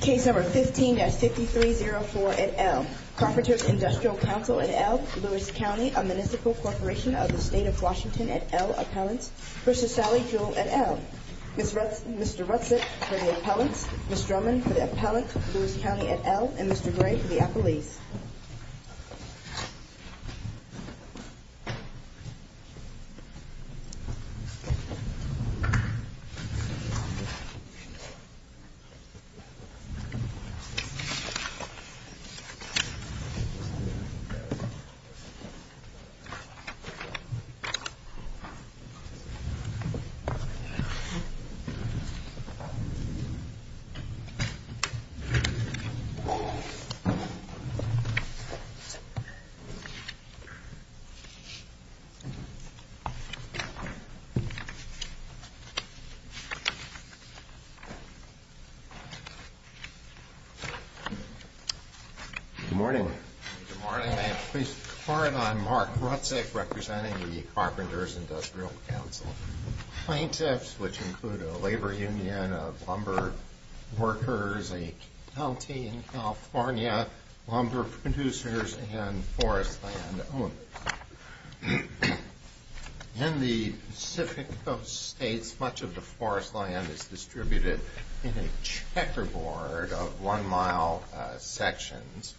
Case No. 15-5304 et al. Carpenters Industrial Council et al. Lewis County, a municipal corporation of the State of Washington et al. appellant, v. Sally Jewell et al. Mr. Rutset for the appellants, Ms. Drummond for the appellants, Lewis County et al., and Mr. Gray for the appellees. Thank you. Thank you. Good morning. Good morning. I am pleased to report that I am Mark Rutset, representing the Carpenters Industrial Council plaintiffs, which include a labor union of lumber workers, a county in California, lumber producers, and forest land owners. In the Pacific Coast states, much of the forest land is distributed in a checkerboard of one-mile sections,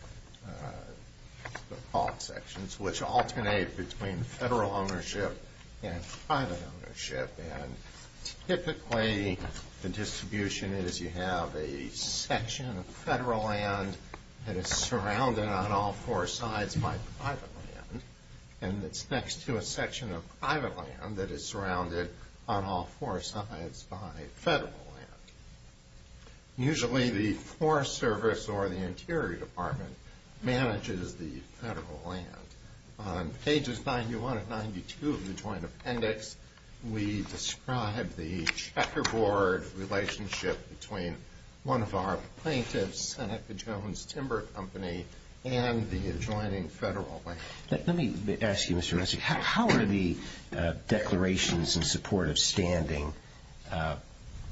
called sections, which alternate between federal ownership and private ownership. And typically, the distribution is you have a section of federal land that is surrounded on all four sides by private land, and it's next to a section of private land that is surrounded on all four sides by federal land. Usually, the Forest Service or the Interior Department manages the federal land. On pages 91 and 92 of the joint appendix, we describe the checkerboard relationship between one of our plaintiffs, Seneca Jones Timber Company, and the adjoining federal land. Let me ask you, Mr. Rutset, how are the declarations in support of standing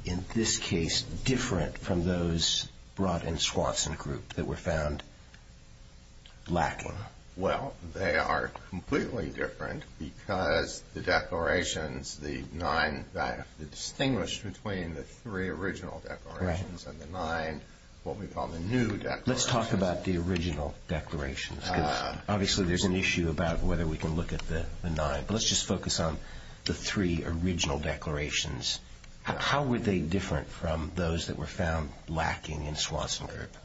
in this case different from those brought in Swanson Group that were found lacking? Well, they are completely different because the declarations, the nine that are distinguished between the three original declarations and the nine, what we call the new declarations. Let's talk about the original declarations. Obviously, there's an issue about whether we can look at the nine, but let's just focus on the three original declarations. How were they different from those that were found lacking in Swanson Group?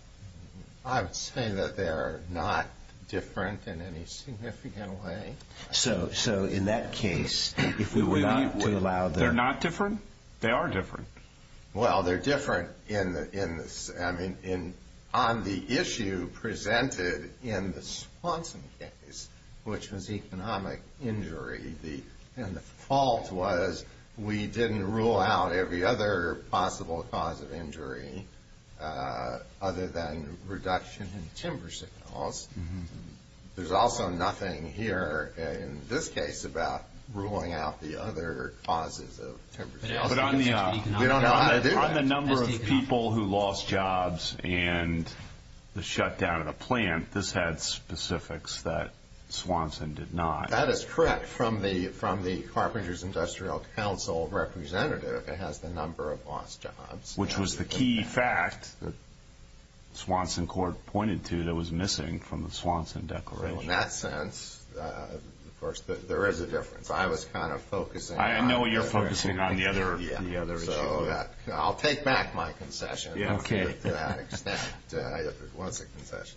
I would say that they are not different in any significant way. So, in that case, if we were not to allow... They're not different? They are different. Well, they're different on the issue presented in the Swanson case, which was economic injury, and the fault was we didn't rule out every other possible cause of injury other than reduction in timber signals. There's also nothing here in this case about ruling out the other causes of timber signals. But on the number of people who lost jobs and the shutdown of the plant, this had specifics that Swanson did not. That is correct. From the Carpenters Industrial Council representative, it has the number of lost jobs. Which was the key fact that Swanson Court pointed to that was missing from the Swanson declaration. In that sense, of course, there is a difference. I was kind of focusing on... I know you're focusing on the other issue. I'll take back my concession to that extent. It was a concession.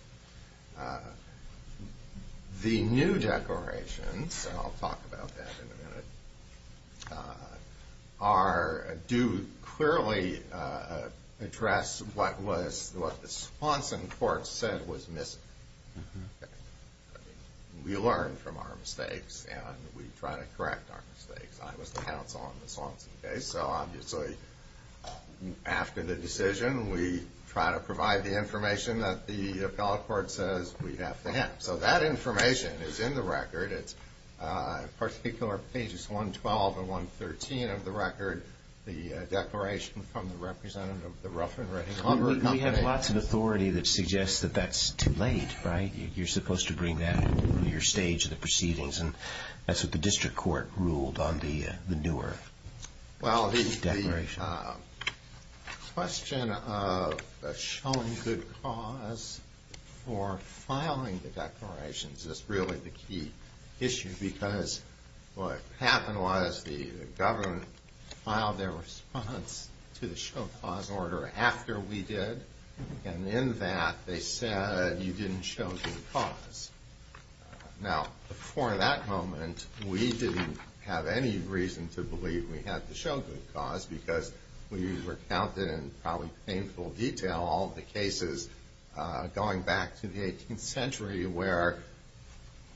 The new declarations, and I'll talk about that in a minute, do clearly address what the Swanson Court said was missing. We learn from our mistakes, and we try to correct our mistakes. I was the counsel on the Swanson case. So obviously, after the decision, we try to provide the information that the appellate court says we have to have. So that information is in the record. It's particular pages 112 and 113 of the record. We have lots of authority that suggests that that's too late. You're supposed to bring that to your stage of the proceedings. That's what the district court ruled on the newer declaration. The question of showing good cause for filing the declarations is really the key issue. It's because what happened was the government filed their response to the show cause order after we did. And in that, they said you didn't show good cause. Now, before that moment, we didn't have any reason to believe we had to show good cause because we recounted in probably painful detail all the cases going back to the 18th century where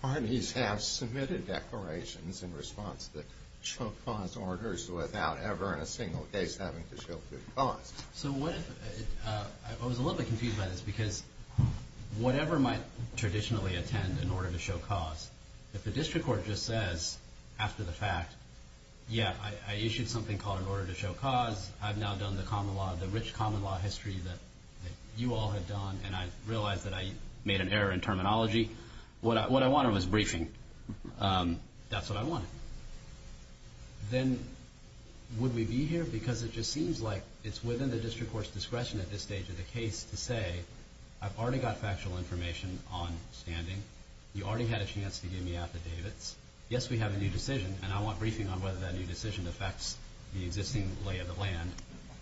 parties have submitted declarations in response to the show cause orders without ever in a single case having to show good cause. I was a little bit confused by this because whatever might traditionally attend an order to show cause, if the district court just says after the fact, yeah, I issued something called an order to show cause, I've now done the rich common law history that you all have done, and I realize that I made an error in terminology. What I wanted was briefing. That's what I wanted. Then would we be here? Because it just seems like it's within the district court's discretion at this stage of the case to say, I've already got factual information on standing. You already had a chance to give me affidavits. Yes, we have a new decision, and I want briefing on whether that new decision affects the existing lay of the land.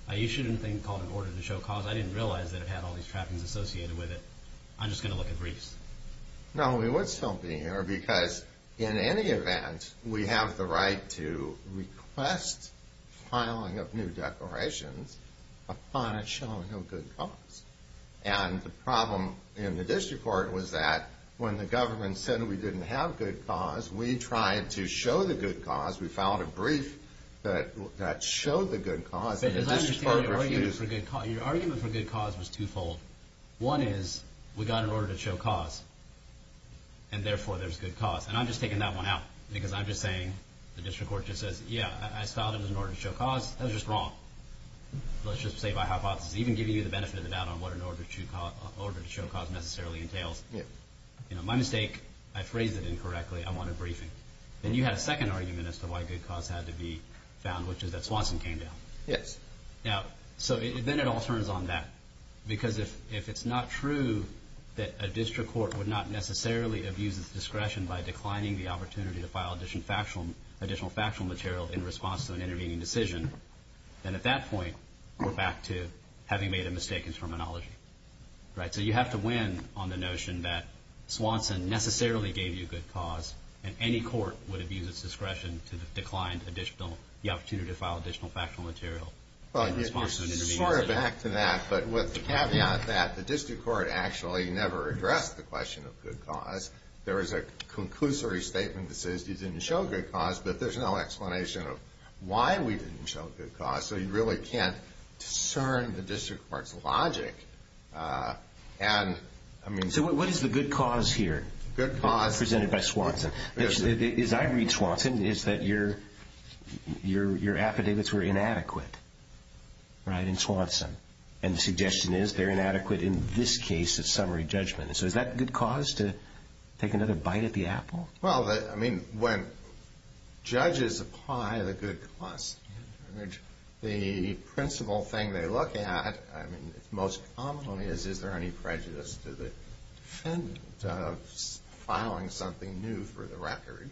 I issued a thing called an order to show cause. I didn't realize that it had all these trappings associated with it. I'm just going to look at briefs. No, we would still be here because in any event, we have the right to request filing of new declarations upon it showing no good cause. And the problem in the district court was that when the government said we didn't have good cause, we tried to show the good cause. We filed a brief that showed the good cause. Your argument for good cause was twofold. One is we got an order to show cause, and therefore there's good cause. And I'm just taking that one out because I'm just saying the district court just says, yeah, I filed it as an order to show cause. That was just wrong. Let's just say by hypothesis. Even giving you the benefit of the doubt on what an order to show cause necessarily entails. My mistake. I phrased it incorrectly. I wanted briefing. Then you had a second argument as to why good cause had to be found, which is that Swanson came down. Yes. Now, so then it all turns on that. Because if it's not true that a district court would not necessarily abuse its discretion by declining the opportunity to file additional factual material in response to an intervening decision, then at that point we're back to having made a mistake in terminology. So you have to win on the notion that Swanson necessarily gave you good cause, and any court would abuse its discretion to decline the opportunity to file additional factual material in response to an intervening decision. Sort of back to that, but with the caveat that the district court actually never addressed the question of good cause. There was a conclusory statement that says you didn't show good cause, but there's no explanation of why we didn't show good cause. So you really can't discern the district court's logic. So what is the good cause here? Good cause. Presented by Swanson. As I read Swanson, it's that your affidavits were inadequate, right, in Swanson. And the suggestion is they're inadequate in this case of summary judgment. So is that good cause to take another bite at the apple? Well, I mean, when judges apply the good cause, the principal thing they look at, I mean, most commonly is is there any prejudice to the defendant of filing something new for the record.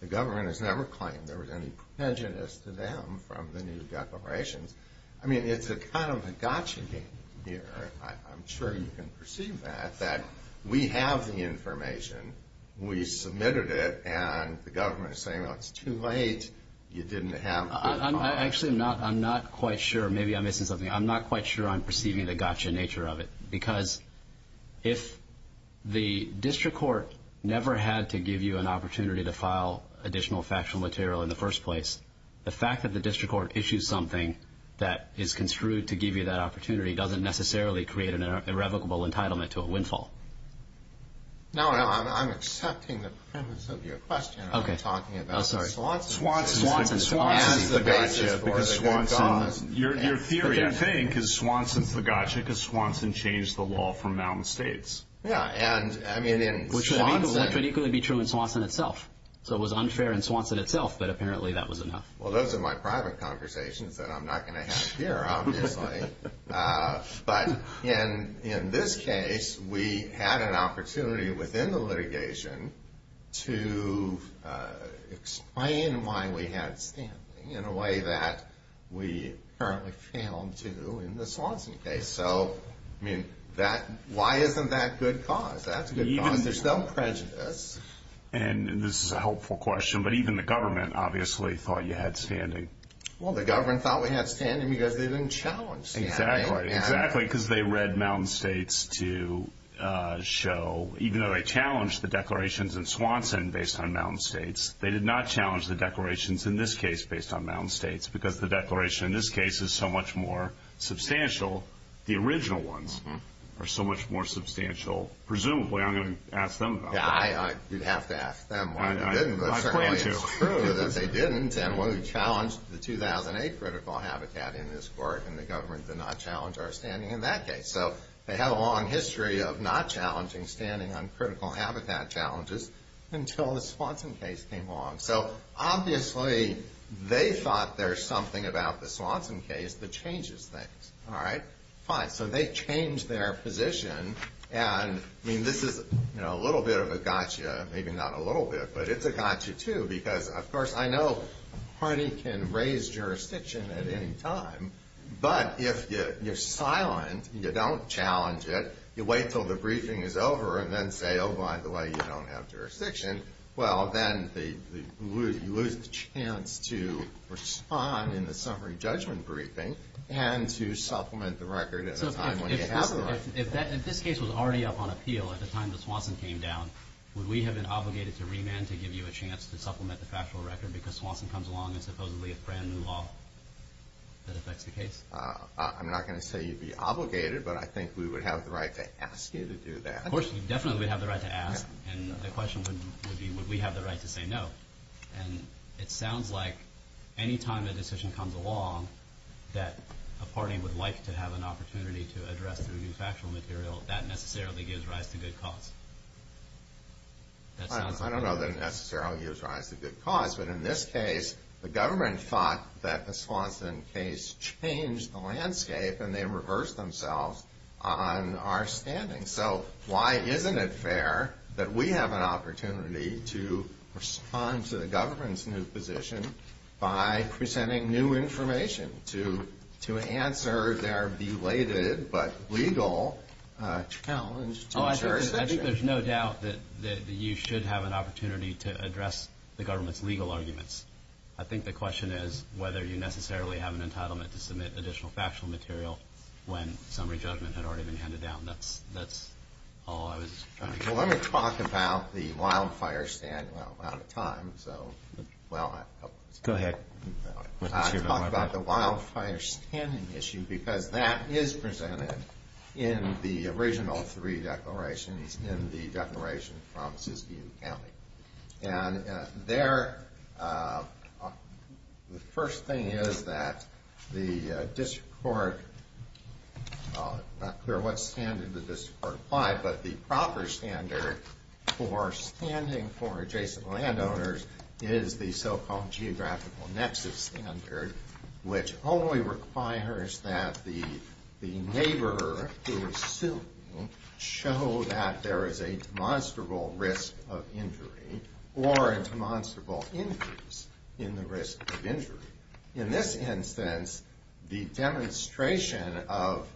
The government has never claimed there was any prejudice to them from the new declarations. I mean, it's a kind of a gotcha game here. I'm sure you can perceive that, that we have the information, we submitted it, and the government is saying, well, it's too late, you didn't have good cause. Actually, I'm not quite sure. Maybe I'm missing something. I'm not quite sure I'm perceiving the gotcha nature of it. Because if the district court never had to give you an opportunity to file additional factual material in the first place, the fact that the district court issues something that is construed to give you that opportunity doesn't necessarily create an irrevocable entitlement to a windfall. No, I'm accepting the premise of your question. I'm talking about Swanson as the gotcha for the good cause. Your theory, I think, is Swanson's the gotcha because Swanson changed the law from Malmstead. Yeah, and I mean in Swanson. Which would equally be true in Swanson itself. So it was unfair in Swanson itself, but apparently that was enough. Well, those are my private conversations that I'm not going to have here, obviously. But in this case, we had an opportunity within the litigation to explain why we had standing in a way that we apparently failed to in the Swanson case. So, I mean, why isn't that good cause? That's good cause. There's no prejudice. And this is a helpful question, but even the government obviously thought you had standing. Well, the government thought we had standing because they didn't challenge standing. Exactly. Because they read Malmstead to show, even though they challenged the declarations in Swanson based on Malmstead, they did not challenge the declarations in this case based on Malmstead. Because the declaration in this case is so much more substantial. The original ones are so much more substantial. Presumably, I'm going to ask them about that. You'd have to ask them. It's true that they didn't, and when we challenged the 2008 critical habitat in this court, and the government did not challenge our standing in that case. So, they had a long history of not challenging standing on critical habitat challenges until the Swanson case came along. So, obviously, they thought there's something about the Swanson case that changes things. All right, fine. So, they changed their position. I mean, this is a little bit of a gotcha, maybe not a little bit, but it's a gotcha, too. Because, of course, I know a party can raise jurisdiction at any time, but if you're silent, you don't challenge it, you wait until the briefing is over, and then say, oh, by the way, you don't have jurisdiction, well, then you lose the chance to respond in the summary judgment briefing and to supplement the record at a time when you haven't. If this case was already up on appeal at the time the Swanson came down, would we have been obligated to remand to give you a chance to supplement the factual record because Swanson comes along and supposedly a brand new law that affects the case? I'm not going to say you'd be obligated, but I think we would have the right to ask you to do that. Of course, definitely we'd have the right to ask. And the question would be would we have the right to say no. And it sounds like any time a decision comes along that a party would like to have an opportunity to address the factual material, that necessarily gives rise to good cause. I don't know that it necessarily gives rise to good cause, but in this case the government thought that the Swanson case changed the landscape and they reversed themselves on our standing. So why isn't it fair that we have an opportunity to respond to the government's new position by presenting new information to answer their belated but legal challenge to jurisdiction? I think there's no doubt that you should have an opportunity to address the government's legal arguments. I think the question is whether you necessarily have an entitlement to submit additional factual material when summary judgment had already been handed down. Well, let me talk about the wildfire standing issue because that is presented in the original three declarations in the declaration from Siskiyou County. And the first thing is that the district court, not clear what standard the district court applied, but the proper standard for standing for adjacent landowners is the so-called geographical nexus standard, which only requires that the neighbor who is suing show that there is a demonstrable risk of injury or a demonstrable increase in the risk of injury. In this instance, the demonstration of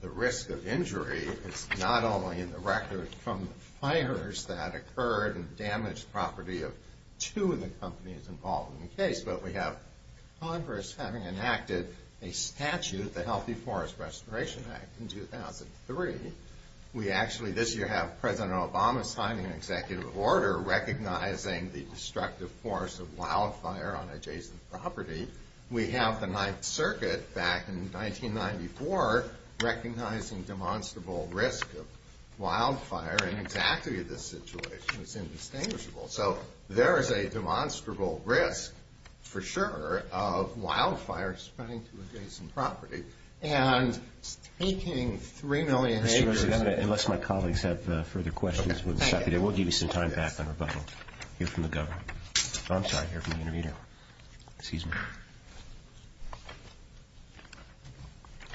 the risk of injury is not only in the record from fires that occurred and damaged property of two of the companies involved in the case, but we have Congress having enacted a statute, the Healthy Forest Restoration Act, in 2003. We actually this year have President Obama signing an executive order recognizing the destructive force of wildfire on adjacent property. We have the Ninth Circuit back in 1994 recognizing demonstrable risk of wildfire, and exactly this situation is indistinguishable. So there is a demonstrable risk, for sure, of wildfires spreading to adjacent property. And taking 3 million acres of land. Unless my colleagues have further questions, we'll give you some time back on rebuttal. Here from the government. I'm sorry, here from the intermedia. Excuse me.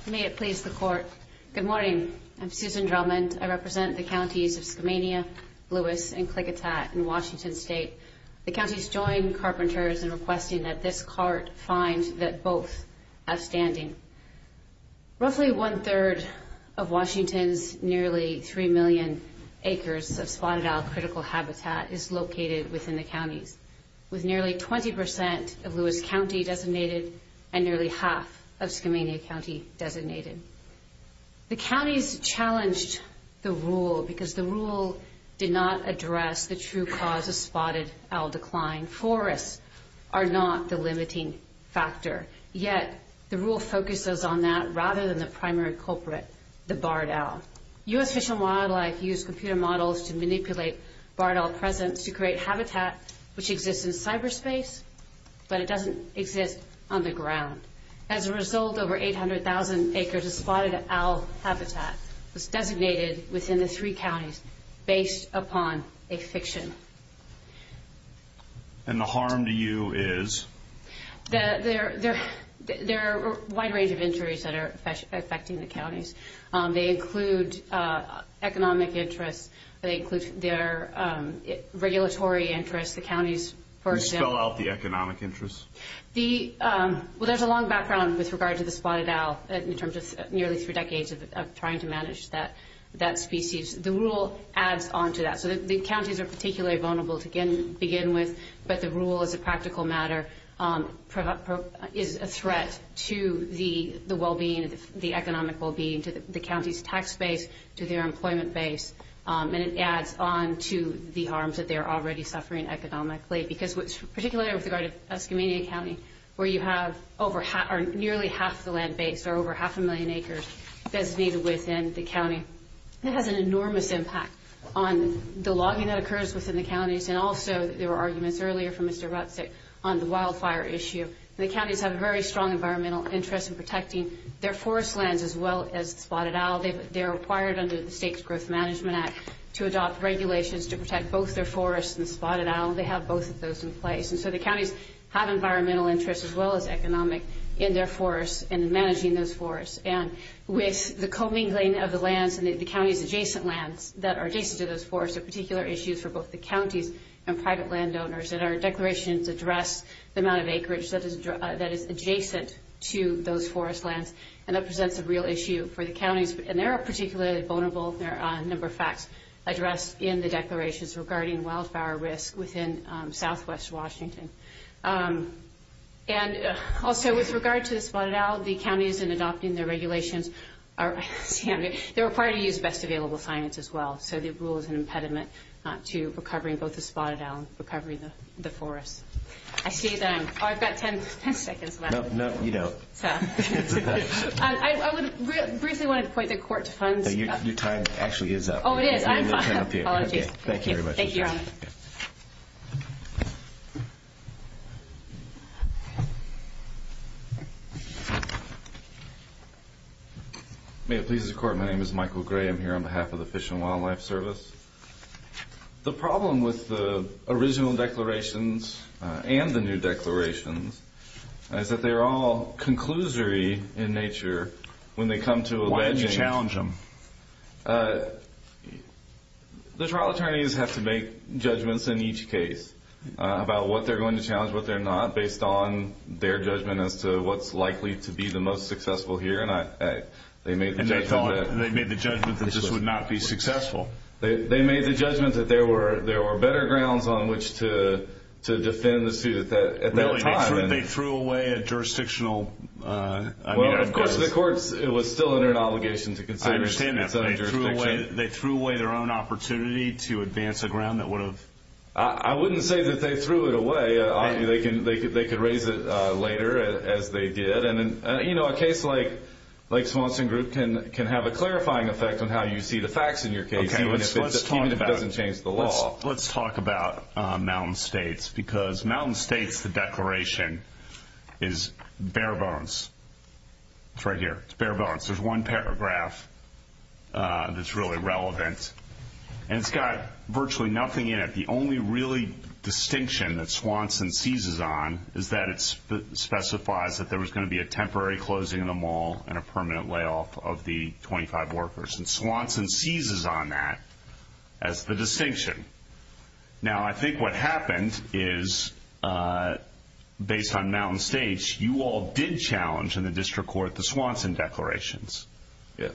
May it please the Court. Good morning. I'm Susan Drummond. I represent the counties of Skamania, Lewis, and Klickitat in Washington State. The counties joined Carpenters in requesting that this cart find that both outstanding. Roughly one-third of Washington's nearly 3 million acres of spotted owl critical habitat is located within the counties, with nearly 20% of Lewis County designated and nearly half of Skamania County designated. The counties challenged the rule because the rule did not address the true cause of spotted owl decline. Forests are not the limiting factor. Yet the rule focuses on that rather than the primary culprit, the barred owl. U.S. Fish and Wildlife used computer models to manipulate barred owl presence to create habitat which exists in cyberspace, but it doesn't exist on the ground. As a result, over 800,000 acres of spotted owl habitat was designated within the three counties based upon a fiction. And the harm to you is? There are a wide range of injuries that are affecting the counties. They include economic interests. They include their regulatory interests. The counties, for example. Can you spell out the economic interests? Well, there's a long background with regard to the spotted owl in terms of nearly three decades of trying to manage that species. The rule adds on to that. So the counties are particularly vulnerable to begin with, but the rule as a practical matter is a threat to the well-being, the economic well-being, to the county's tax base, to their employment base. And it adds on to the harms that they're already suffering economically. Because particularly with regard to Escamilla County, where you have nearly half the land base or over half a million acres designated within the county, it has an enormous impact on the logging that occurs within the counties and also there were arguments earlier from Mr. Rutzig on the wildfire issue. The counties have a very strong environmental interest in protecting their forest lands as well as the spotted owl. They're required under the State Growth Management Act to adopt regulations to protect both their forests and the spotted owl. They have both of those in place. And so the counties have environmental interests as well as economic in their forests and in managing those forests. And with the co-mingling of the lands and the county's adjacent lands that are adjacent to those forests, there are particular issues for both the counties and private landowners. And our declarations address the amount of acreage that is adjacent to those forest lands and that presents a real issue for the counties. And there are particularly vulnerable, there are a number of facts addressed in the declarations regarding wildfire risk within southwest Washington. And also with regard to the spotted owl, the counties in adopting the regulations are required to use the best available science as well. So the rule is an impediment to recovering both the spotted owl and recovering the forest. I see that I've got 10 seconds left. No, you don't. I would briefly want to point the court to funds. Your time actually is up. Oh, it is. Apologies. Thank you very much. Thank you, Your Honor. Thank you. May it please the Court, my name is Michael Gray. I'm here on behalf of the Fish and Wildlife Service. The problem with the original declarations and the new declarations is that they are all conclusory in nature when they come to a ledging. Why did you challenge them? The trial attorneys have to make judgments in each case about what they're going to challenge, what they're not, based on their judgment as to what's likely to be the most successful here. And they made the judgment that this would not be successful. They made the judgment that there were better grounds on which to defend the suit at that time. Really, they threw away a jurisdictional... Well, of course the court was still under an obligation to consider... I understand that. They threw away their own opportunity to advance a ground that would have... I wouldn't say that they threw it away. They could raise it later, as they did. And, you know, a case like Swanson Group can have a clarifying effect on how you see the facts in your case, even if it doesn't change the law. Well, let's talk about Mountain States because Mountain States, the declaration, is bare bones. It's right here. It's bare bones. There's one paragraph that's really relevant. And it's got virtually nothing in it. The only really distinction that Swanson seizes on is that it specifies that there was going to be a temporary closing of the mall and a permanent layoff of the 25 workers. And Swanson seizes on that as the distinction. Now, I think what happened is, based on Mountain States, you all did challenge in the district court the Swanson declarations. Yes.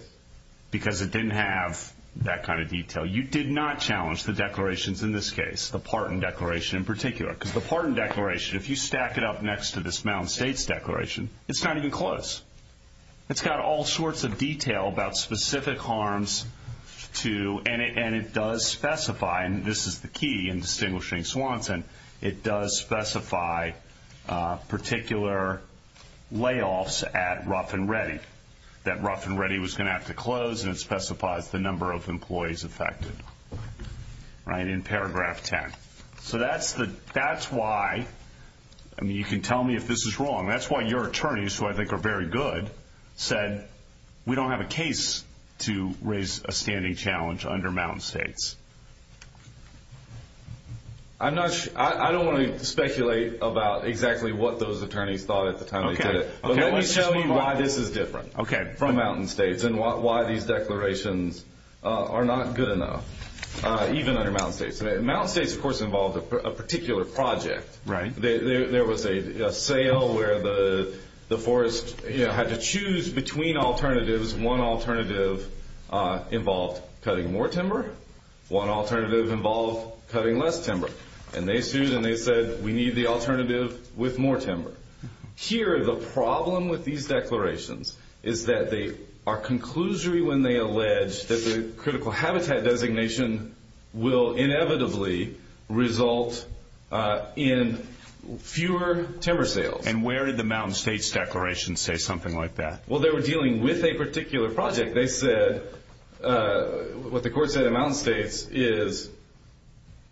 Because it didn't have that kind of detail. You did not challenge the declarations in this case, the Parton Declaration in particular. Because the Parton Declaration, if you stack it up next to this Mountain States declaration, it's not even close. It's got all sorts of detail about specific harms. And it does specify, and this is the key in distinguishing Swanson, it does specify particular layoffs at Rough and Ready, that Rough and Ready was going to have to close, and it specifies the number of employees affected in paragraph 10. So that's why, I mean, you can tell me if this is wrong. That's why your attorneys, who I think are very good, said, we don't have a case to raise a standing challenge under Mountain States. I don't want to speculate about exactly what those attorneys thought at the time they did it. But let me show you why this is different from Mountain States and why these declarations are not good enough, even under Mountain States. Mountain States, of course, involved a particular project. Right. There was a sale where the forest had to choose between alternatives. One alternative involved cutting more timber. One alternative involved cutting less timber. And they sued, and they said, we need the alternative with more timber. Here, the problem with these declarations is that they are conclusory when they allege that the critical habitat designation will inevitably result in fewer timber sales. And where did the Mountain States declaration say something like that? Well, they were dealing with a particular project. They said, what the court said in Mountain States is,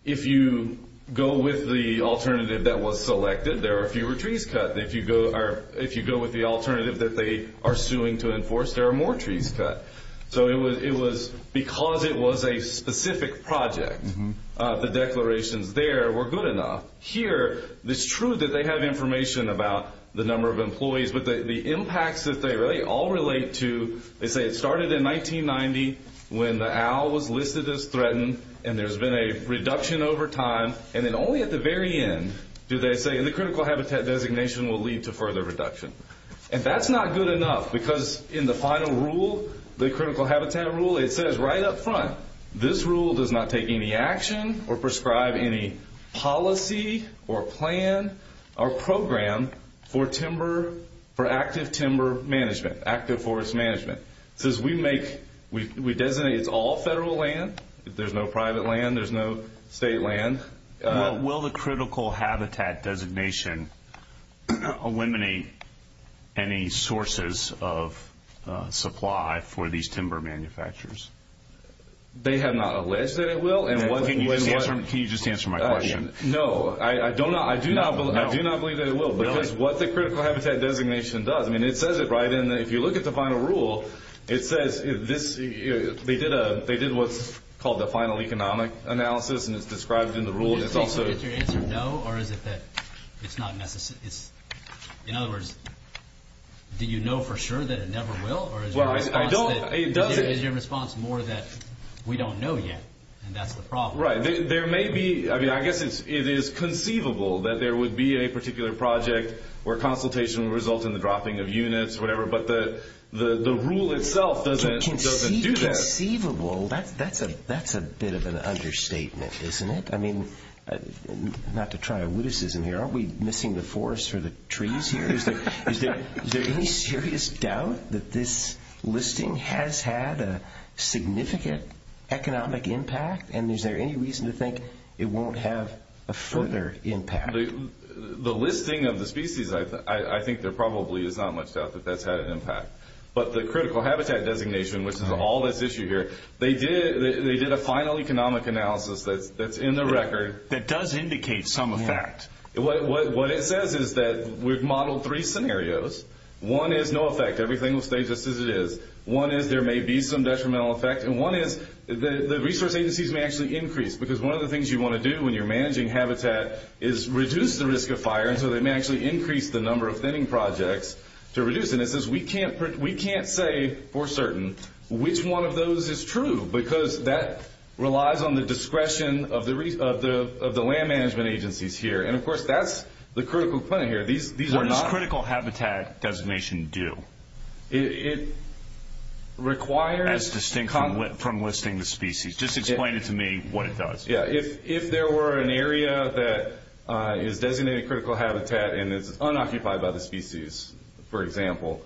if you go with the alternative that was selected, there are fewer trees cut. If you go with the alternative that they are suing to enforce, there are more trees cut. So it was because it was a specific project, the declarations there were good enough. Here, it's true that they have information about the number of employees, but the impacts that they all relate to, they say it started in 1990 when the owl was listed as threatened, and there's been a reduction over time. And then only at the very end do they say the critical habitat designation will lead to further reduction. And that's not good enough, because in the final rule, the critical habitat rule, it says right up front, this rule does not take any action or prescribe any policy or plan or program for active timber management, active forest management. It says we designate it's all federal land. There's no private land. There's no state land. Will the critical habitat designation eliminate any sources of supply for these timber manufacturers? They have not alleged that it will. Can you just answer my question? No, I do not believe that it will, because what the critical habitat designation does, I mean, it says it right in there. If you look at the final rule, it says they did what's called the final economic analysis, and it's described in the rule, and it's also- Do you think they'll get your answer no, or is it that it's not necessary? In other words, do you know for sure that it never will? Or is your response more that we don't know yet, and that's the problem? Right. There may be, I mean, I guess it is conceivable that there would be a particular project where consultation would result in the dropping of units or whatever, but the rule itself doesn't do that. That's a bit of an understatement, isn't it? I mean, not to try a witticism here, aren't we missing the forest or the trees here? Is there any serious doubt that this listing has had a significant economic impact, and is there any reason to think it won't have a further impact? The listing of the species, I think there probably is not much doubt that that's had an impact. But the critical habitat designation, which is all that's issued here, they did a final economic analysis that's in the record. That does indicate some effect. What it says is that we've modeled three scenarios. One is no effect. Everything will stay just as it is. One is there may be some detrimental effect, and one is the resource agencies may actually increase, because one of the things you want to do when you're managing habitat is reduce the risk of fire, and so they may actually increase the number of thinning projects to reduce it. And it says we can't say for certain which one of those is true, because that relies on the discretion of the land management agencies here. And, of course, that's the critical point here. What does critical habitat designation do? It requires... As distinct from listing the species. Just explain it to me what it does. Yeah, if there were an area that is designated critical habitat and is unoccupied by the species, for example,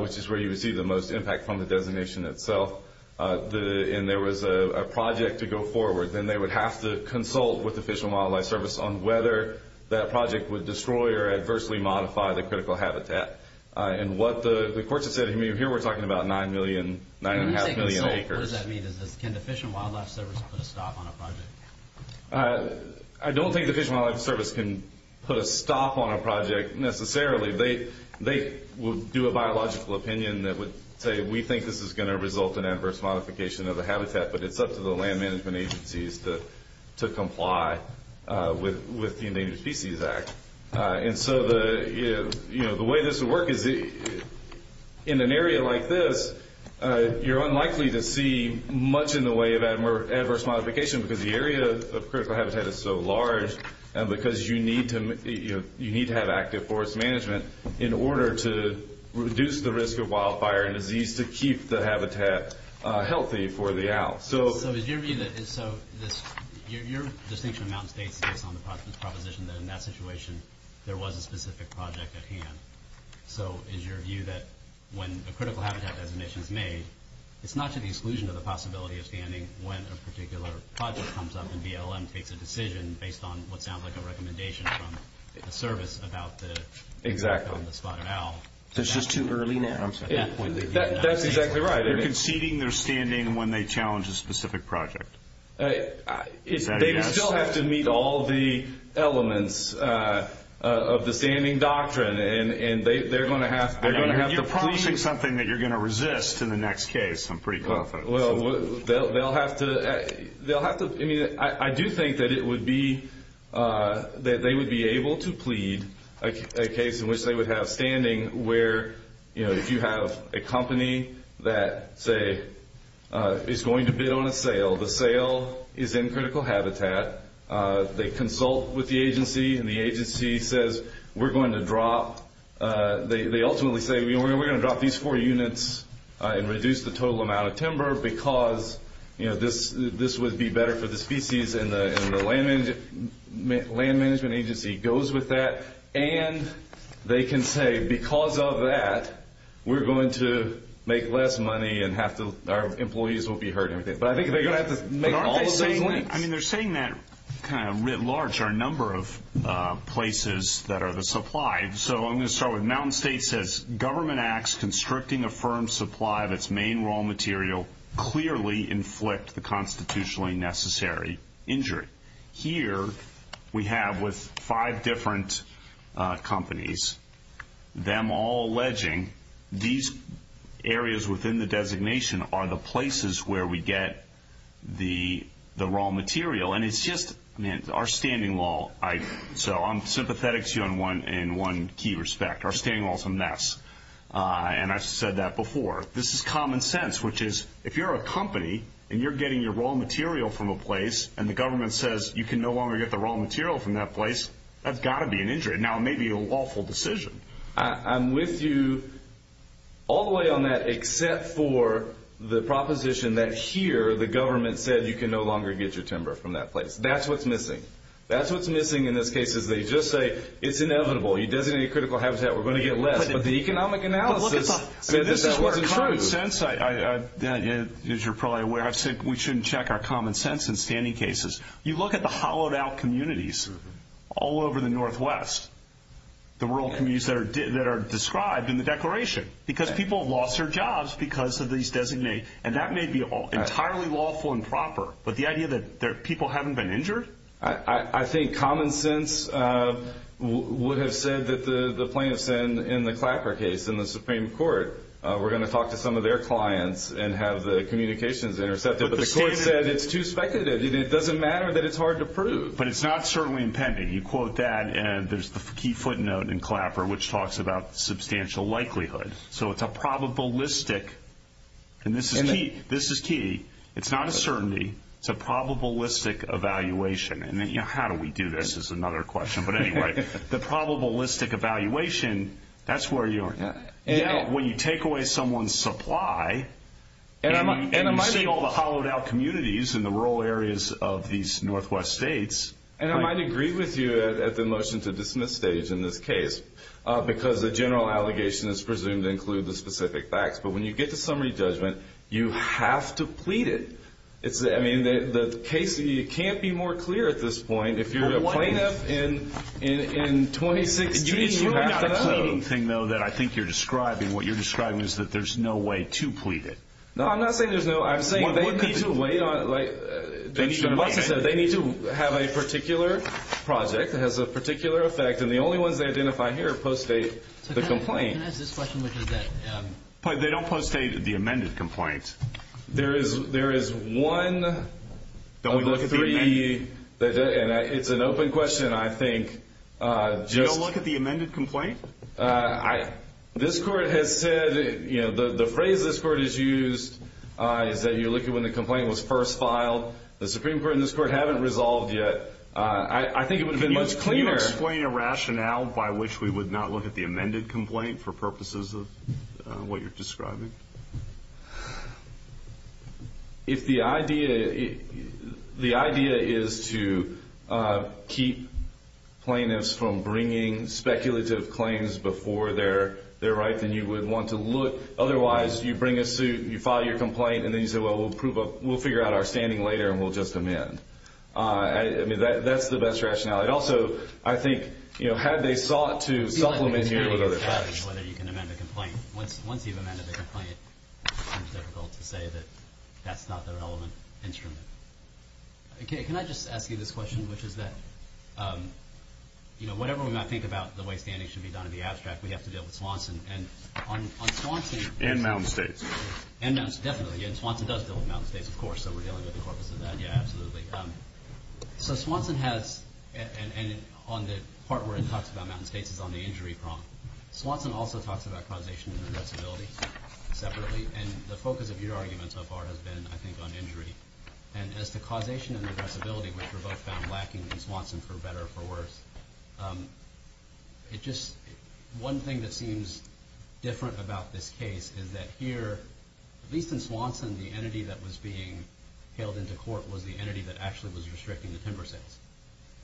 which is where you would see the most impact from the designation itself, and there was a project to go forward, then they would have to consult with the Fish and Wildlife Service on whether that project would destroy or adversely modify the critical habitat. And what the courts have said here, we're talking about 9.5 million acres. What does that mean? Can the Fish and Wildlife Service put a stop on a project? I don't think the Fish and Wildlife Service can put a stop on a project necessarily. They would do a biological opinion that would say, we think this is going to result in adverse modification of the habitat, but it's up to the land management agencies to comply with the Endangered Species Act. And so the way this would work is in an area like this, you're unlikely to see much in the way of adverse modification because the area of critical habitat is so large, and because you need to have active forest management in order to reduce the risk of wildfire and disease to keep the habitat healthy for the owl. So your distinction amounts based on the proposition that in that situation there was a specific project at hand. So is your view that when a critical habitat designation is made, it's not to the exclusion of the possibility of standing when a particular project comes up and BLM takes a decision based on what sounds like a recommendation from the service about the spotted owl. There's just too early now. That's exactly right. They're conceding their standing when they challenge a specific project. They still have to meet all the elements of the standing doctrine, and they're going to have to plead. You're promising something that you're going to resist in the next case. I'm pretty confident. Well, they'll have to. I do think that they would be able to plead a case in which they would have standing where if you have a company that, say, is going to bid on a sale, the sale is in critical habitat. They consult with the agency, and the agency says, we're going to drop these four units and reduce the total amount of timber because this would be better for the species, and the land management agency goes with that. And they can say, because of that, we're going to make less money and our employees won't be hurt. But I think they're going to have to make all of those links. But aren't they saying that? I mean, they're saying that kind of writ large are a number of places that are supplied. So I'm going to start with Mountain State says, government acts constricting a firm's supply of its main raw material clearly inflict the constitutionally necessary injury. Here we have with five different companies, them all alleging these areas within the designation are the places where we get the raw material. And it's just our standing law. So I'm sympathetic to you in one key respect. Our standing law is a mess, and I've said that before. This is common sense, which is if you're a company and you're getting your raw material from a place, and the government says you can no longer get the raw material from that place, that's got to be an injury. Now, it may be a lawful decision. I'm with you all the way on that except for the proposition that here the government said you can no longer get your timber from that place. That's what's missing. That's what's missing in this case is they just say it's inevitable. You designate a critical habitat, we're going to get less. But the economic analysis said that that wasn't true. But this is where common sense, as you're probably aware, I've said we shouldn't check our common sense in standing cases. You look at the hollowed out communities all over the Northwest, the rural communities that are described in the declaration, because people have lost their jobs because of these designate. And that may be entirely lawful and proper, but the idea that people haven't been injured? I think common sense would have said that the plaintiffs in the Clapper case in the Supreme Court were going to talk to some of their clients and have the communications intercepted. But the court said it's too speculative. It doesn't matter that it's hard to prove. But it's not certainly impending. You quote that, and there's the key footnote in Clapper, which talks about substantial likelihood. So it's a probabilistic, and this is key. It's not a certainty. It's a probabilistic evaluation. How do we do this is another question. But anyway, the probabilistic evaluation, that's where you are. When you take away someone's supply, and you say all the hollowed-out communities in the rural areas of these Northwest states. And I might agree with you at the motion-to-dismiss stage in this case, because the general allegation is presumed to include the specific facts. But when you get to summary judgment, you have to plead it. I mean, the case can't be more clear at this point. If you're a plaintiff in 2016, you have to plead. It's really not a pleading thing, though, that I think you're describing. What you're describing is that there's no way to plead it. No, I'm not saying there's no way. I'm saying they need to have a particular project that has a particular effect, and the only ones they identify here post-date the complaint. Can I ask this question? They don't post-date the amended complaint. There is one of the three, and it's an open question, I think. You don't look at the amended complaint? This Court has said, you know, the phrase this Court has used is that you look at when the complaint was first filed. The Supreme Court and this Court haven't resolved yet. I think it would have been much cleaner. Can you explain a rationale by which we would not look at the amended complaint for purposes of what you're describing? If the idea is to keep plaintiffs from bringing speculative claims before their right, then you would want to look. Otherwise, you bring a suit, you file your complaint, and then you say, well, we'll figure out our standing later and we'll just amend. I mean, that's the best rationale. Also, I think, you know, had they sought to supplement here with other facts. Whether you can amend a complaint. Once you've amended a complaint, it's difficult to say that that's not the relevant instrument. Can I just ask you this question, which is that, you know, whatever we might think about the way standing should be done in the abstract, we have to deal with Swanson. And on Swanson. And Mountain States. And Mountain States, definitely. And Swanson does deal with Mountain States, of course. So we're dealing with the corpus of that. Yeah, absolutely. So Swanson has, and on the part where it talks about Mountain States, is on the injury problem. Swanson also talks about causation and regressibility separately. And the focus of your argument so far has been, I think, on injury. And as to causation and regressibility, which were both found lacking in Swanson, for better or for worse, it just, one thing that seems different about this case is that here, at least in Swanson, the entity that was being hailed into court was the entity that actually was restricting the timber sales.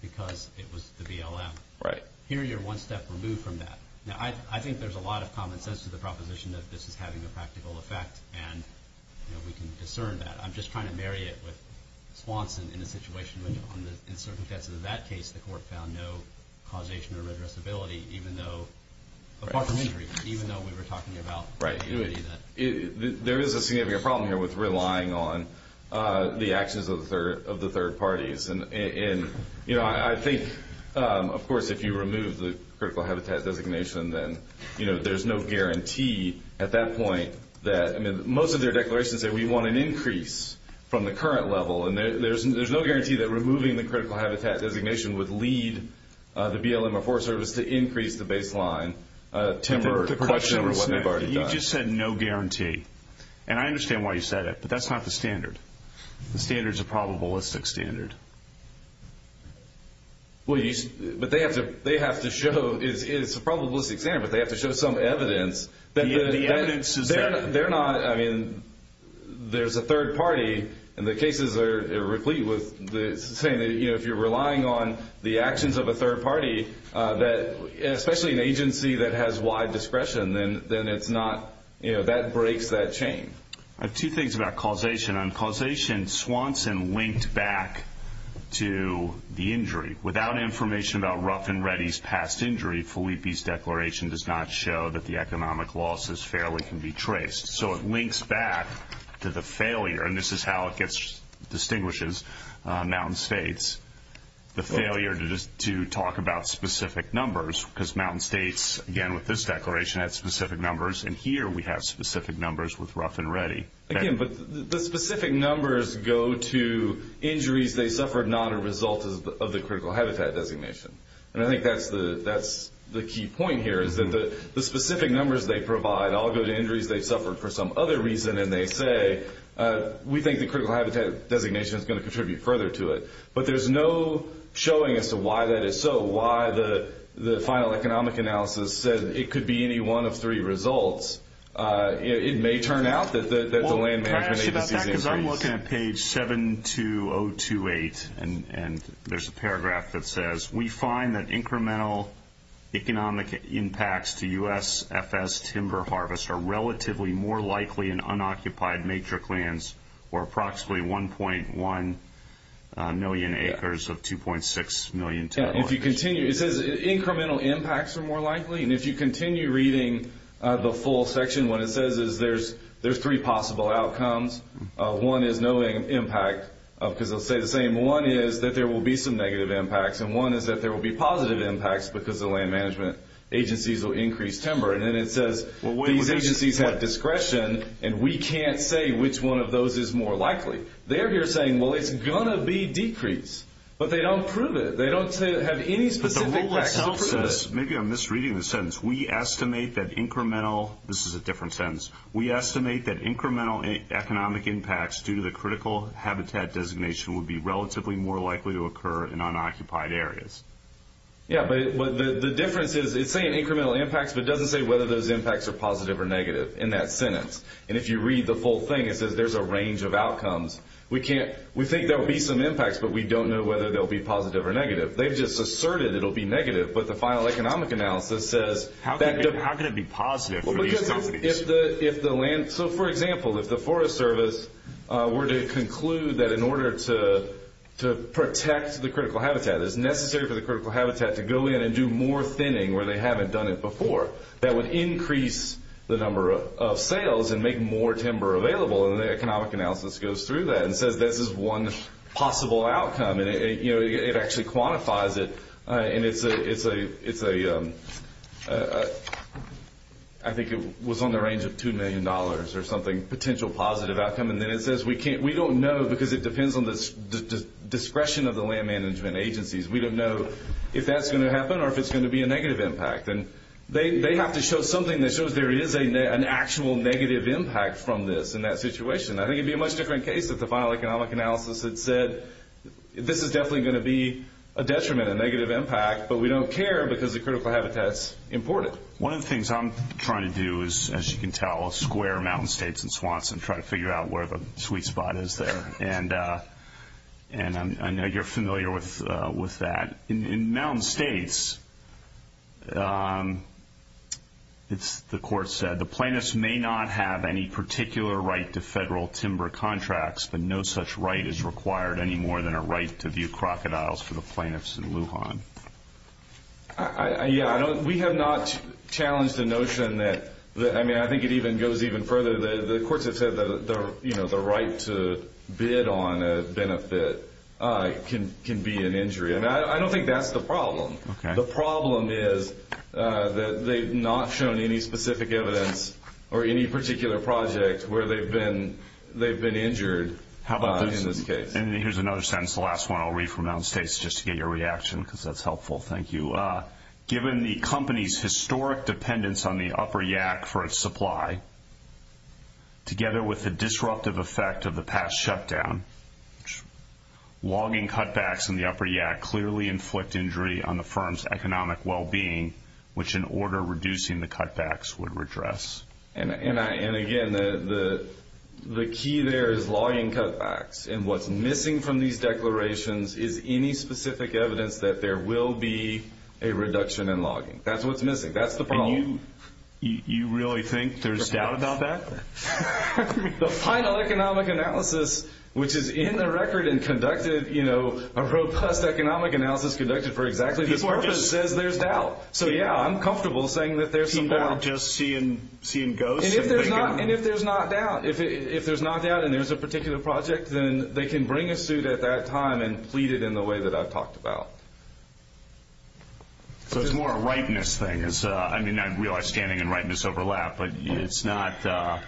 Because it was the BLM. Right. Here you're one step removed from that. Now, I think there's a lot of common sense to the proposition that this is having a practical effect, and we can discern that. I'm just trying to marry it with Swanson in the situation in which, in certain cases of that case, the court found no causation or regressibility, even though, apart from injury, even though we were talking about the entity that. There is a significant problem here with relying on the actions of the third parties. I think, of course, if you remove the critical habitat designation, then there's no guarantee at that point that. Most of their declarations say we want an increase from the current level, and there's no guarantee that removing the critical habitat designation would lead the BLM or Forest Service to increase the baseline timber production or what they've already done. You just said no guarantee. And I understand why you said it, but that's not the standard. The standard's a probabilistic standard. Well, but they have to show it's a probabilistic standard, but they have to show some evidence. The evidence is that. They're not, I mean, there's a third party, and the cases are replete with saying that if you're relying on the actions of a third party, especially an agency that has wide discretion, then that breaks that chain. I have two things about causation. On causation, Swanson linked back to the injury. Without information about Rough and Ready's past injury, Felipe's declaration does not show that the economic losses fairly can be traced. So it links back to the failure, and this is how it distinguishes Mountain States, the failure to talk about specific numbers because Mountain States, again, with this declaration, had specific numbers, and here we have specific numbers with Rough and Ready. Again, but the specific numbers go to injuries they suffered, not a result of the critical habitat designation. And I think that's the key point here is that the specific numbers they provide all go to injuries they suffered for some other reason, and they say, we think the critical habitat designation is going to contribute further to it. But there's no showing as to why that is so, why the final economic analysis said it could be any one of three results. It may turn out that the land management agency's injuries. I'm looking at page 72028, and there's a paragraph that says, we find that incremental economic impacts to U.S. FS timber harvest are relatively more likely in unoccupied major clans or approximately 1.1 million acres of 2.6 million timber. If you continue, it says incremental impacts are more likely, and if you continue reading the full section, what it says is there's three possible outcomes. One is no impact because they'll say the same. One is that there will be some negative impacts, and one is that there will be positive impacts because the land management agencies will increase timber. And then it says these agencies have discretion, and we can't say which one of those is more likely. They're here saying, well, it's going to be decreased, but they don't prove it. They don't have any specific facts to prove it. Maybe I'm misreading the sentence. We estimate that incremental – this is a different sentence. We estimate that incremental economic impacts due to the critical habitat designation would be relatively more likely to occur in unoccupied areas. Yeah, but the difference is it's saying incremental impacts, but it doesn't say whether those impacts are positive or negative in that sentence. And if you read the full thing, it says there's a range of outcomes. We think there will be some impacts, but we don't know whether they'll be positive or negative. They've just asserted it'll be negative, but the final economic analysis says that – How can it be positive for these companies? Because if the land – so, for example, if the Forest Service were to conclude that in order to protect the critical habitat, it's necessary for the critical habitat to go in and do more thinning where they haven't done it before, that would increase the number of sales and make more timber available. And the economic analysis goes through that and says this is one possible outcome. And it actually quantifies it, and it's a – I think it was on the range of $2 million or something, potential positive outcome. And then it says we don't know because it depends on the discretion of the land management agencies. We don't know if that's going to happen or if it's going to be a negative impact. They have to show something that shows there is an actual negative impact from this in that situation. I think it would be a much different case if the final economic analysis had said this is definitely going to be a detriment, a negative impact, but we don't care because the critical habitat's imported. One of the things I'm trying to do is, as you can tell, square Mountain States and Swanson trying to figure out where the sweet spot is there. And I know you're familiar with that. In Mountain States, the court said, the plaintiffs may not have any particular right to federal timber contracts, but no such right is required any more than a right to view crocodiles for the plaintiffs in Lujan. Yeah, we have not challenged the notion that – I mean, I think it goes even further. The courts have said that the right to bid on a benefit can be an injury. And I don't think that's the problem. The problem is that they've not shown any specific evidence or any particular project where they've been injured in this case. And here's another sentence, the last one I'll read from Mountain States, just to get your reaction because that's helpful. Thank you. Given the company's historic dependence on the upper yak for its supply, together with the disruptive effect of the past shutdown, logging cutbacks in the upper yak clearly inflict injury on the firm's economic well-being, which in order reducing the cutbacks would redress. And again, the key there is logging cutbacks. And what's missing from these declarations is any specific evidence that there will be a reduction in logging. That's what's missing. That's the problem. You really think there's doubt about that? The final economic analysis, which is in the record and conducted, you know, a robust economic analysis conducted for exactly this purpose, says there's doubt. So, yeah, I'm comfortable saying that there's some doubt. So you're just seeing ghosts? And if there's not doubt, if there's not doubt and there's a particular project, then they can bring a suit at that time and plead it in the way that I've talked about. So it's more a rightness thing. I mean, I realize standing and rightness overlap, but it's not that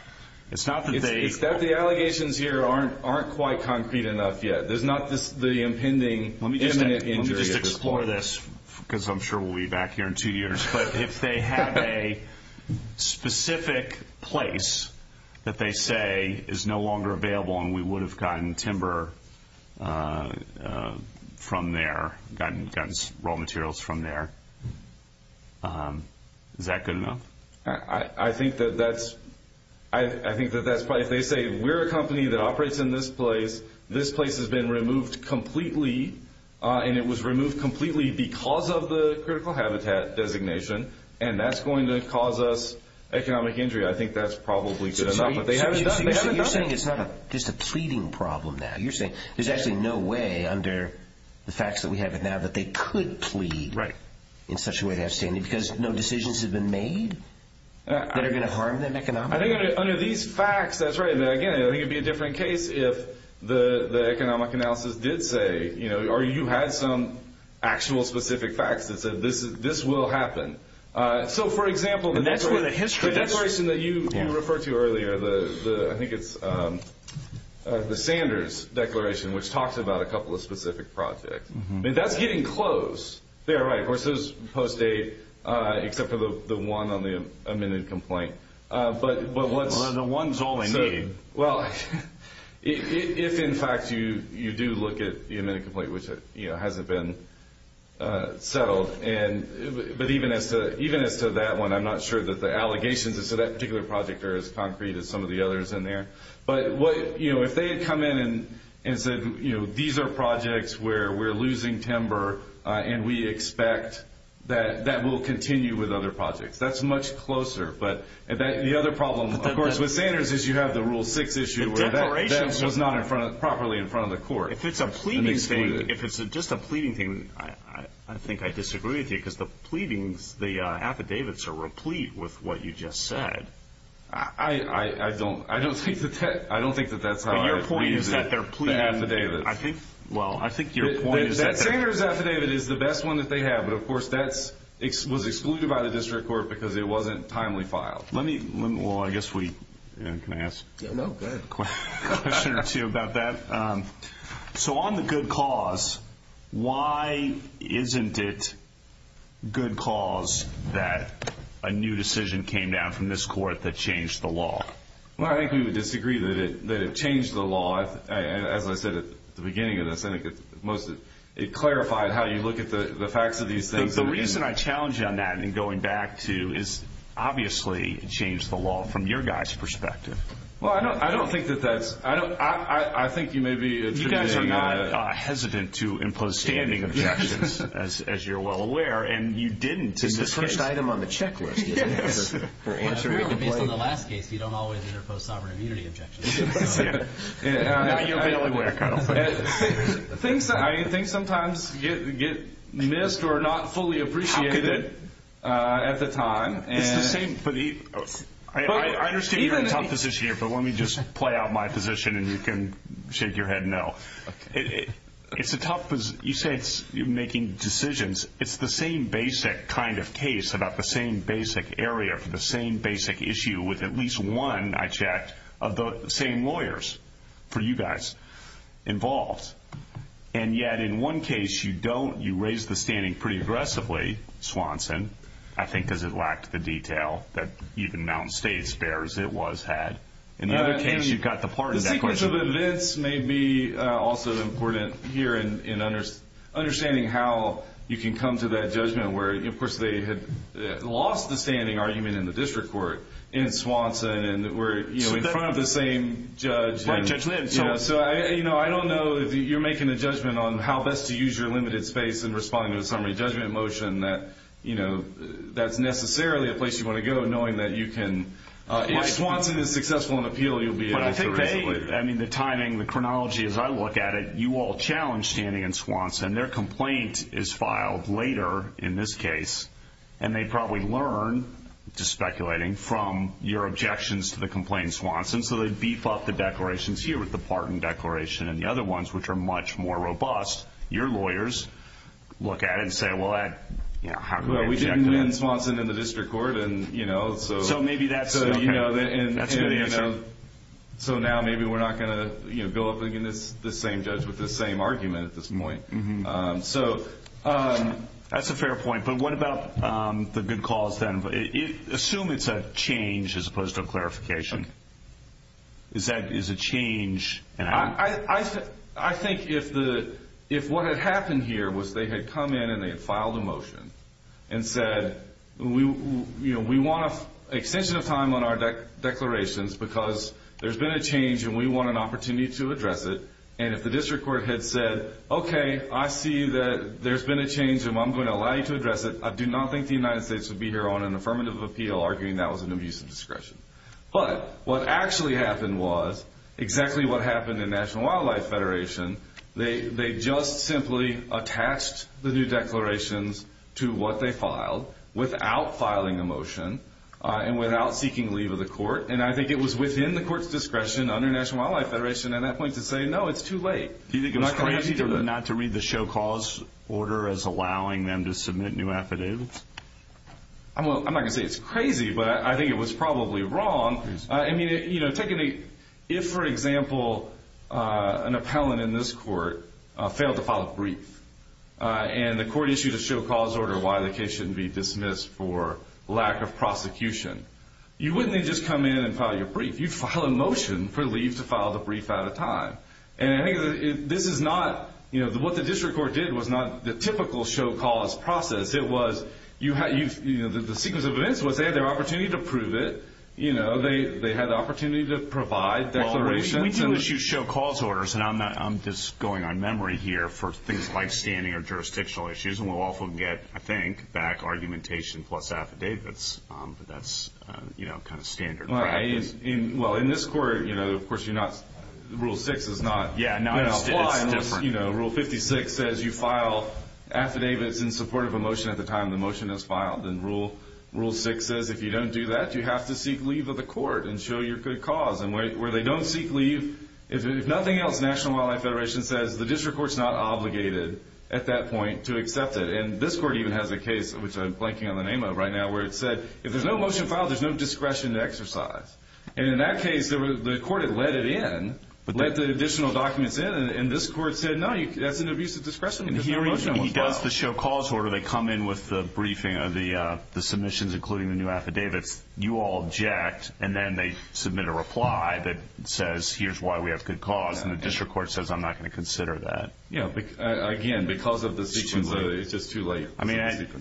they— It's that the allegations here aren't quite concrete enough yet. There's not the impending imminent injury. Let me just explore this because I'm sure we'll be back here in two years. But if they have a specific place that they say is no longer available and we would have gotten timber from there, gotten raw materials from there, is that good enough? I think that that's—I think that that's— If they say we're a company that operates in this place, this place has been removed completely, and it was removed completely because of the critical habitat designation, and that's going to cause us economic injury, I think that's probably good enough. But they haven't done it. So you're saying it's not just a pleading problem now. You're saying there's actually no way under the facts that we have now that they could plead in such a way to have standing because no decisions have been made that are going to harm them economically? I think under these facts, that's right. Again, I think it would be a different case if the economic analysis did say, or you had some actual specific facts that said this will happen. So, for example— And that's where the history— The declaration that you referred to earlier, I think it's the Sanders declaration, which talks about a couple of specific projects. That's getting close. They are right. Of course, there's post-date, except for the one on the amended complaint. The one's all they need. Well, if, in fact, you do look at the amended complaint, which hasn't been settled, but even as to that one, I'm not sure that the allegations as to that particular project are as concrete as some of the others in there. But if they had come in and said, these are projects where we're losing timber, and we expect that that will continue with other projects, that's much closer. But the other problem, of course, with Sanders is you have the Rule 6 issue where that was not properly in front of the court. If it's a pleading thing, I think I disagree with you, because the pleadings, the affidavits are replete with what you just said. I don't think that that's how it is. But your point is that they're pleading affidavits. Well, I think your point is that— That Sanders affidavit is the best one that they have. But, of course, that was excluded by the district court because it wasn't timely filed. Let me— Well, I guess we— Can I ask a question or two about that? So on the good cause, why isn't it good cause that a new decision came down from this court that changed the law? Well, I think we would disagree that it changed the law. As I said at the beginning of this, I think it clarified how you look at the facts of these things. But the reason I challenge you on that in going back to is, obviously, it changed the law from your guy's perspective. Well, I don't think that that's—I think you may be— You guys are not hesitant to impose standing objections, as you're well aware, and you didn't in this case. It's the first item on the checklist. Based on the last case, you don't always interpose sovereign immunity objections. Now you're barely aware, Kyle. Things sometimes get missed or not fully appreciated at the time. It's the same—I understand you're in a tough position here, but let me just play out my position and you can shake your head no. It's a tough—you say you're making decisions. It's the same basic kind of case about the same basic area for the same basic issue with at least one, I checked, of the same lawyers for you guys involved. And yet in one case, you don't—you raise the standing pretty aggressively, Swanson, I think because it lacked the detail that even Mountain State's bears it was had. In the other case, you've got the part of that question. The sequence of events may be also important here in understanding how you can come to that judgment where, of course, they had lost the standing argument in the district court in Swanson and were in front of the same judge. So I don't know if you're making a judgment on how best to use your limited space in responding to a summary judgment motion. That's necessarily a place you want to go, knowing that you can—if Swanson is successful in appeal, you'll be able to— But I think they—I mean, the timing, the chronology as I look at it, you all challenged standing in Swanson. Their complaint is filed later in this case, and they probably learn, just speculating, from your objections to the complaint in Swanson. So they beef up the declarations here with the Parton Declaration and the other ones, which are much more robust. Your lawyers look at it and say, well, how can I object to that? Well, we didn't win Swanson in the district court, and so— So maybe that's— That's a good answer. So now maybe we're not going to go up against the same judge with the same argument at this point. So that's a fair point, but what about the good cause then? Assume it's a change as opposed to a clarification. Is that—is a change— I think if the—if what had happened here was they had come in and they had filed a motion and said, we want an extension of time on our declarations because there's been a change and we want an opportunity to address it, and if the district court had said, okay, I see that there's been a change and I'm going to allow you to address it, I do not think the United States would be here on an affirmative appeal arguing that was an abuse of discretion. But what actually happened was exactly what happened in National Wildlife Federation. They just simply attached the new declarations to what they filed without filing a motion and without seeking leave of the court. And I think it was within the court's discretion under National Wildlife Federation at that point to say, no, it's too late. Do you think it was crazy not to read the show cause order as allowing them to submit new affidavits? I'm not going to say it's crazy, but I think it was probably wrong. I mean, you know, take any—if, for example, an appellant in this court failed to file a brief and the court issued a show cause order why the case shouldn't be dismissed for lack of prosecution, you wouldn't have just come in and filed your brief. You'd file a motion for leave to file the brief at a time. And I think this is not—you know, what the district court did was not the typical show cause process. It was—you know, the sequence of events was they had their opportunity to prove it. You know, they had the opportunity to provide declarations. Well, we do issue show cause orders, and I'm just going on memory here for things like standing or jurisdictional issues, and we'll often get, I think, back argumentation plus affidavits. But that's, you know, kind of standard practice. Well, in this court, you know, of course you're not—Rule 6 is not— Yeah, no, it's different. Rule 56 says you file affidavits in support of a motion at the time the motion is filed. And Rule 6 says if you don't do that, you have to seek leave of the court and show your good cause. And where they don't seek leave, if nothing else, National Wildlife Federation says the district court's not obligated at that point to accept it. And this court even has a case, which I'm blanking on the name of right now, where it said if there's no motion filed, there's no discretion to exercise. And in that case, the court had let it in, let the additional documents in, and this court said no, that's an abuse of discretion because no motion was filed. And here he does the show cause order. They come in with the briefing of the submissions, including the new affidavits. You all object, and then they submit a reply that says here's why we have good cause. And the district court says I'm not going to consider that. Again, because of the sequence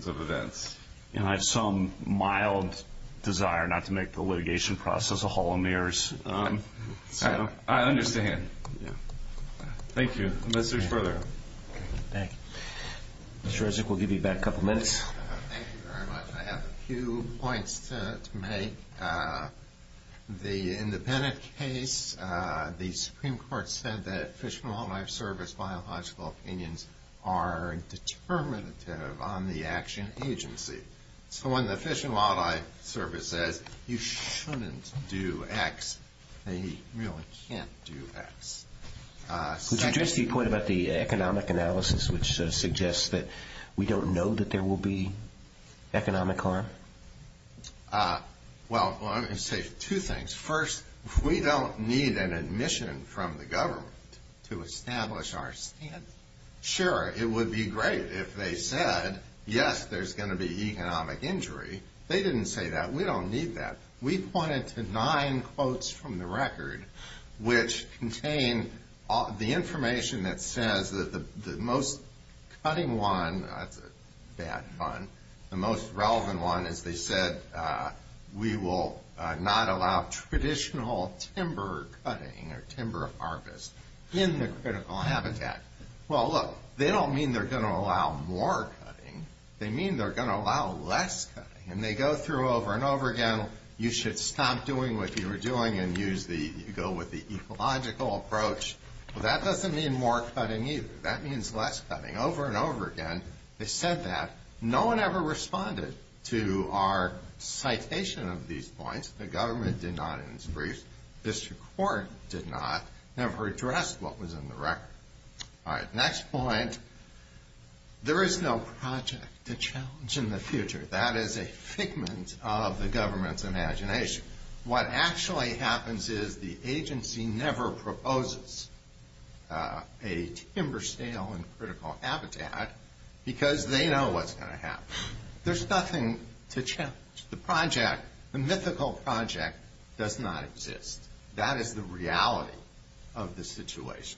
of events. I have some mild desire not to make the litigation process a hall of mirrors. I understand. Thank you. Unless there's further? Mr. Resnick, we'll give you back a couple minutes. Thank you very much. I have a few points to make. The independent case, the Supreme Court said that Fish and Wildlife Service biological opinions are determinative on the action agency. So when the Fish and Wildlife Service says you shouldn't do X, they really can't do X. Could you address the point about the economic analysis, which suggests that we don't know that there will be economic harm? Well, let me say two things. First, we don't need an admission from the government to establish our stance. Sure, it would be great if they said, yes, there's going to be economic injury. They didn't say that. We don't need that. We pointed to nine quotes from the record, which contain the information that says that the most cutting one, that's bad fun, the most relevant one is they said, we will not allow traditional timber cutting or timber harvest in the critical habitat. Well, look, they don't mean they're going to allow more cutting. They mean they're going to allow less cutting. And they go through over and over again, you should stop doing what you were doing and go with the ecological approach. Well, that doesn't mean more cutting either. That means less cutting. Over and over again, they said that. No one ever responded to our citation of these points. The government did not in its briefs. District Court did not. Never addressed what was in the record. All right. Next point, there is no project to challenge in the future. That is a figment of the government's imagination. What actually happens is the agency never proposes a timber sale in critical habitat because they know what's going to happen. There's nothing to challenge. The project, the mythical project, does not exist. That is the reality of the situation.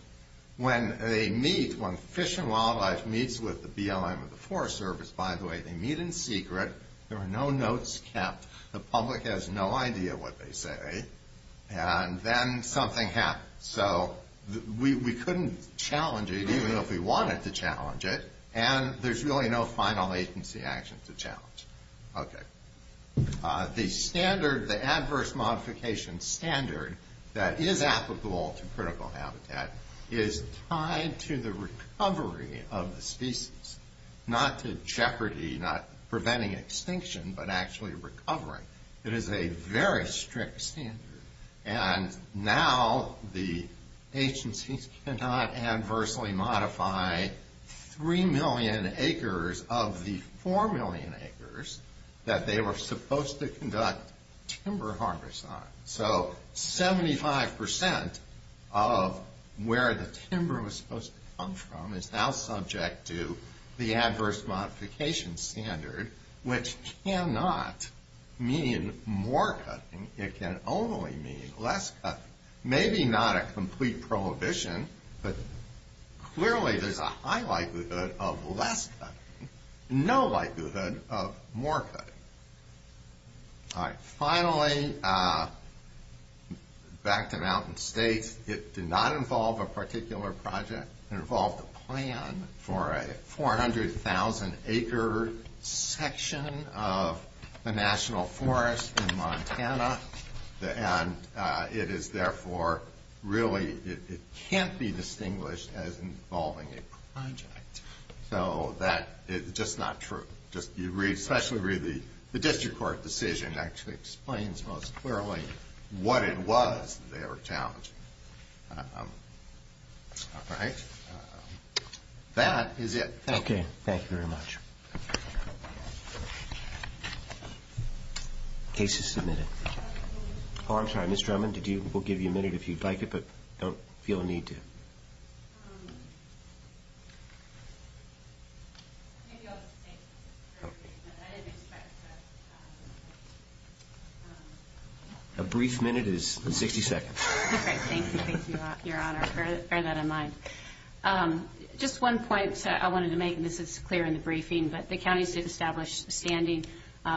When they meet, when Fish and Wildlife meets with the BLM of the Forest Service, by the way, they meet in secret. There are no notes kept. The public has no idea what they say. And then something happens. So we couldn't challenge it even if we wanted to challenge it. And there's really no final agency action to challenge. Okay. The adverse modification standard that is applicable to critical habitat is tied to the recovery of the species, not to jeopardy, not preventing extinction, but actually recovering. It is a very strict standard. And now the agencies cannot adversely modify 3 million acres of the 4 million acres that they were supposed to conduct timber harvest on. So 75% of where the timber was supposed to come from is now subject to the adverse modification standard, which cannot mean more cutting. It can only mean less cutting. Maybe not a complete prohibition, but clearly there's a high likelihood of less cutting, no likelihood of more cutting. All right. Finally, back to Mountain State, it did not involve a particular project. It involved a plan for a 400,000 acre section of the National Forest in Montana. And it is therefore really, it can't be distinguished as involving a project. So that is just not true. Especially the district court decision actually explains most clearly what it was that they were challenging. All right. That is it. Okay. Thank you very much. Case is submitted. Oh, I'm sorry, Ms. Drummond, we'll give you a minute if you'd like it, but don't feel the need to. A brief minute is 60 seconds. All right. Thank you, Your Honor. Bear that in mind. Just one point I wanted to make, and this is clear in the briefing, but the counties did establish standing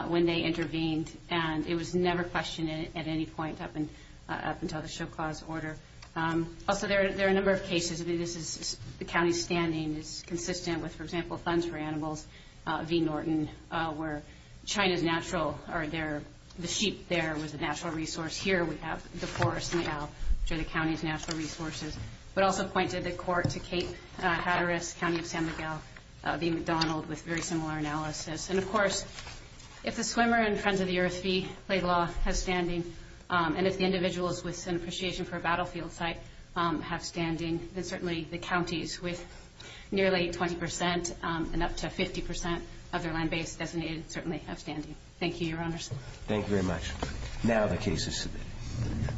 when they intervened, and it was never questioned at any point up until the Show Clause order. Also, there are a number of cases. I mean, the county's standing is consistent with, for example, Funds for Animals v. Norton, where China's natural, or the sheep there was a natural resource. Here we have the forest, which are the county's natural resources, but also pointed the court to Cape Hatteras County of San Miguel v. McDonald with very similar analysis. And, of course, if the Swimmer and Friends of the Earth v. Laidlaw have standing, and if the individuals with an appreciation for a battlefield site have standing, then certainly the counties with nearly 20% and up to 50% of their land base designated certainly have standing. Thank you, Your Honors. Thank you very much. Now the case is submitted.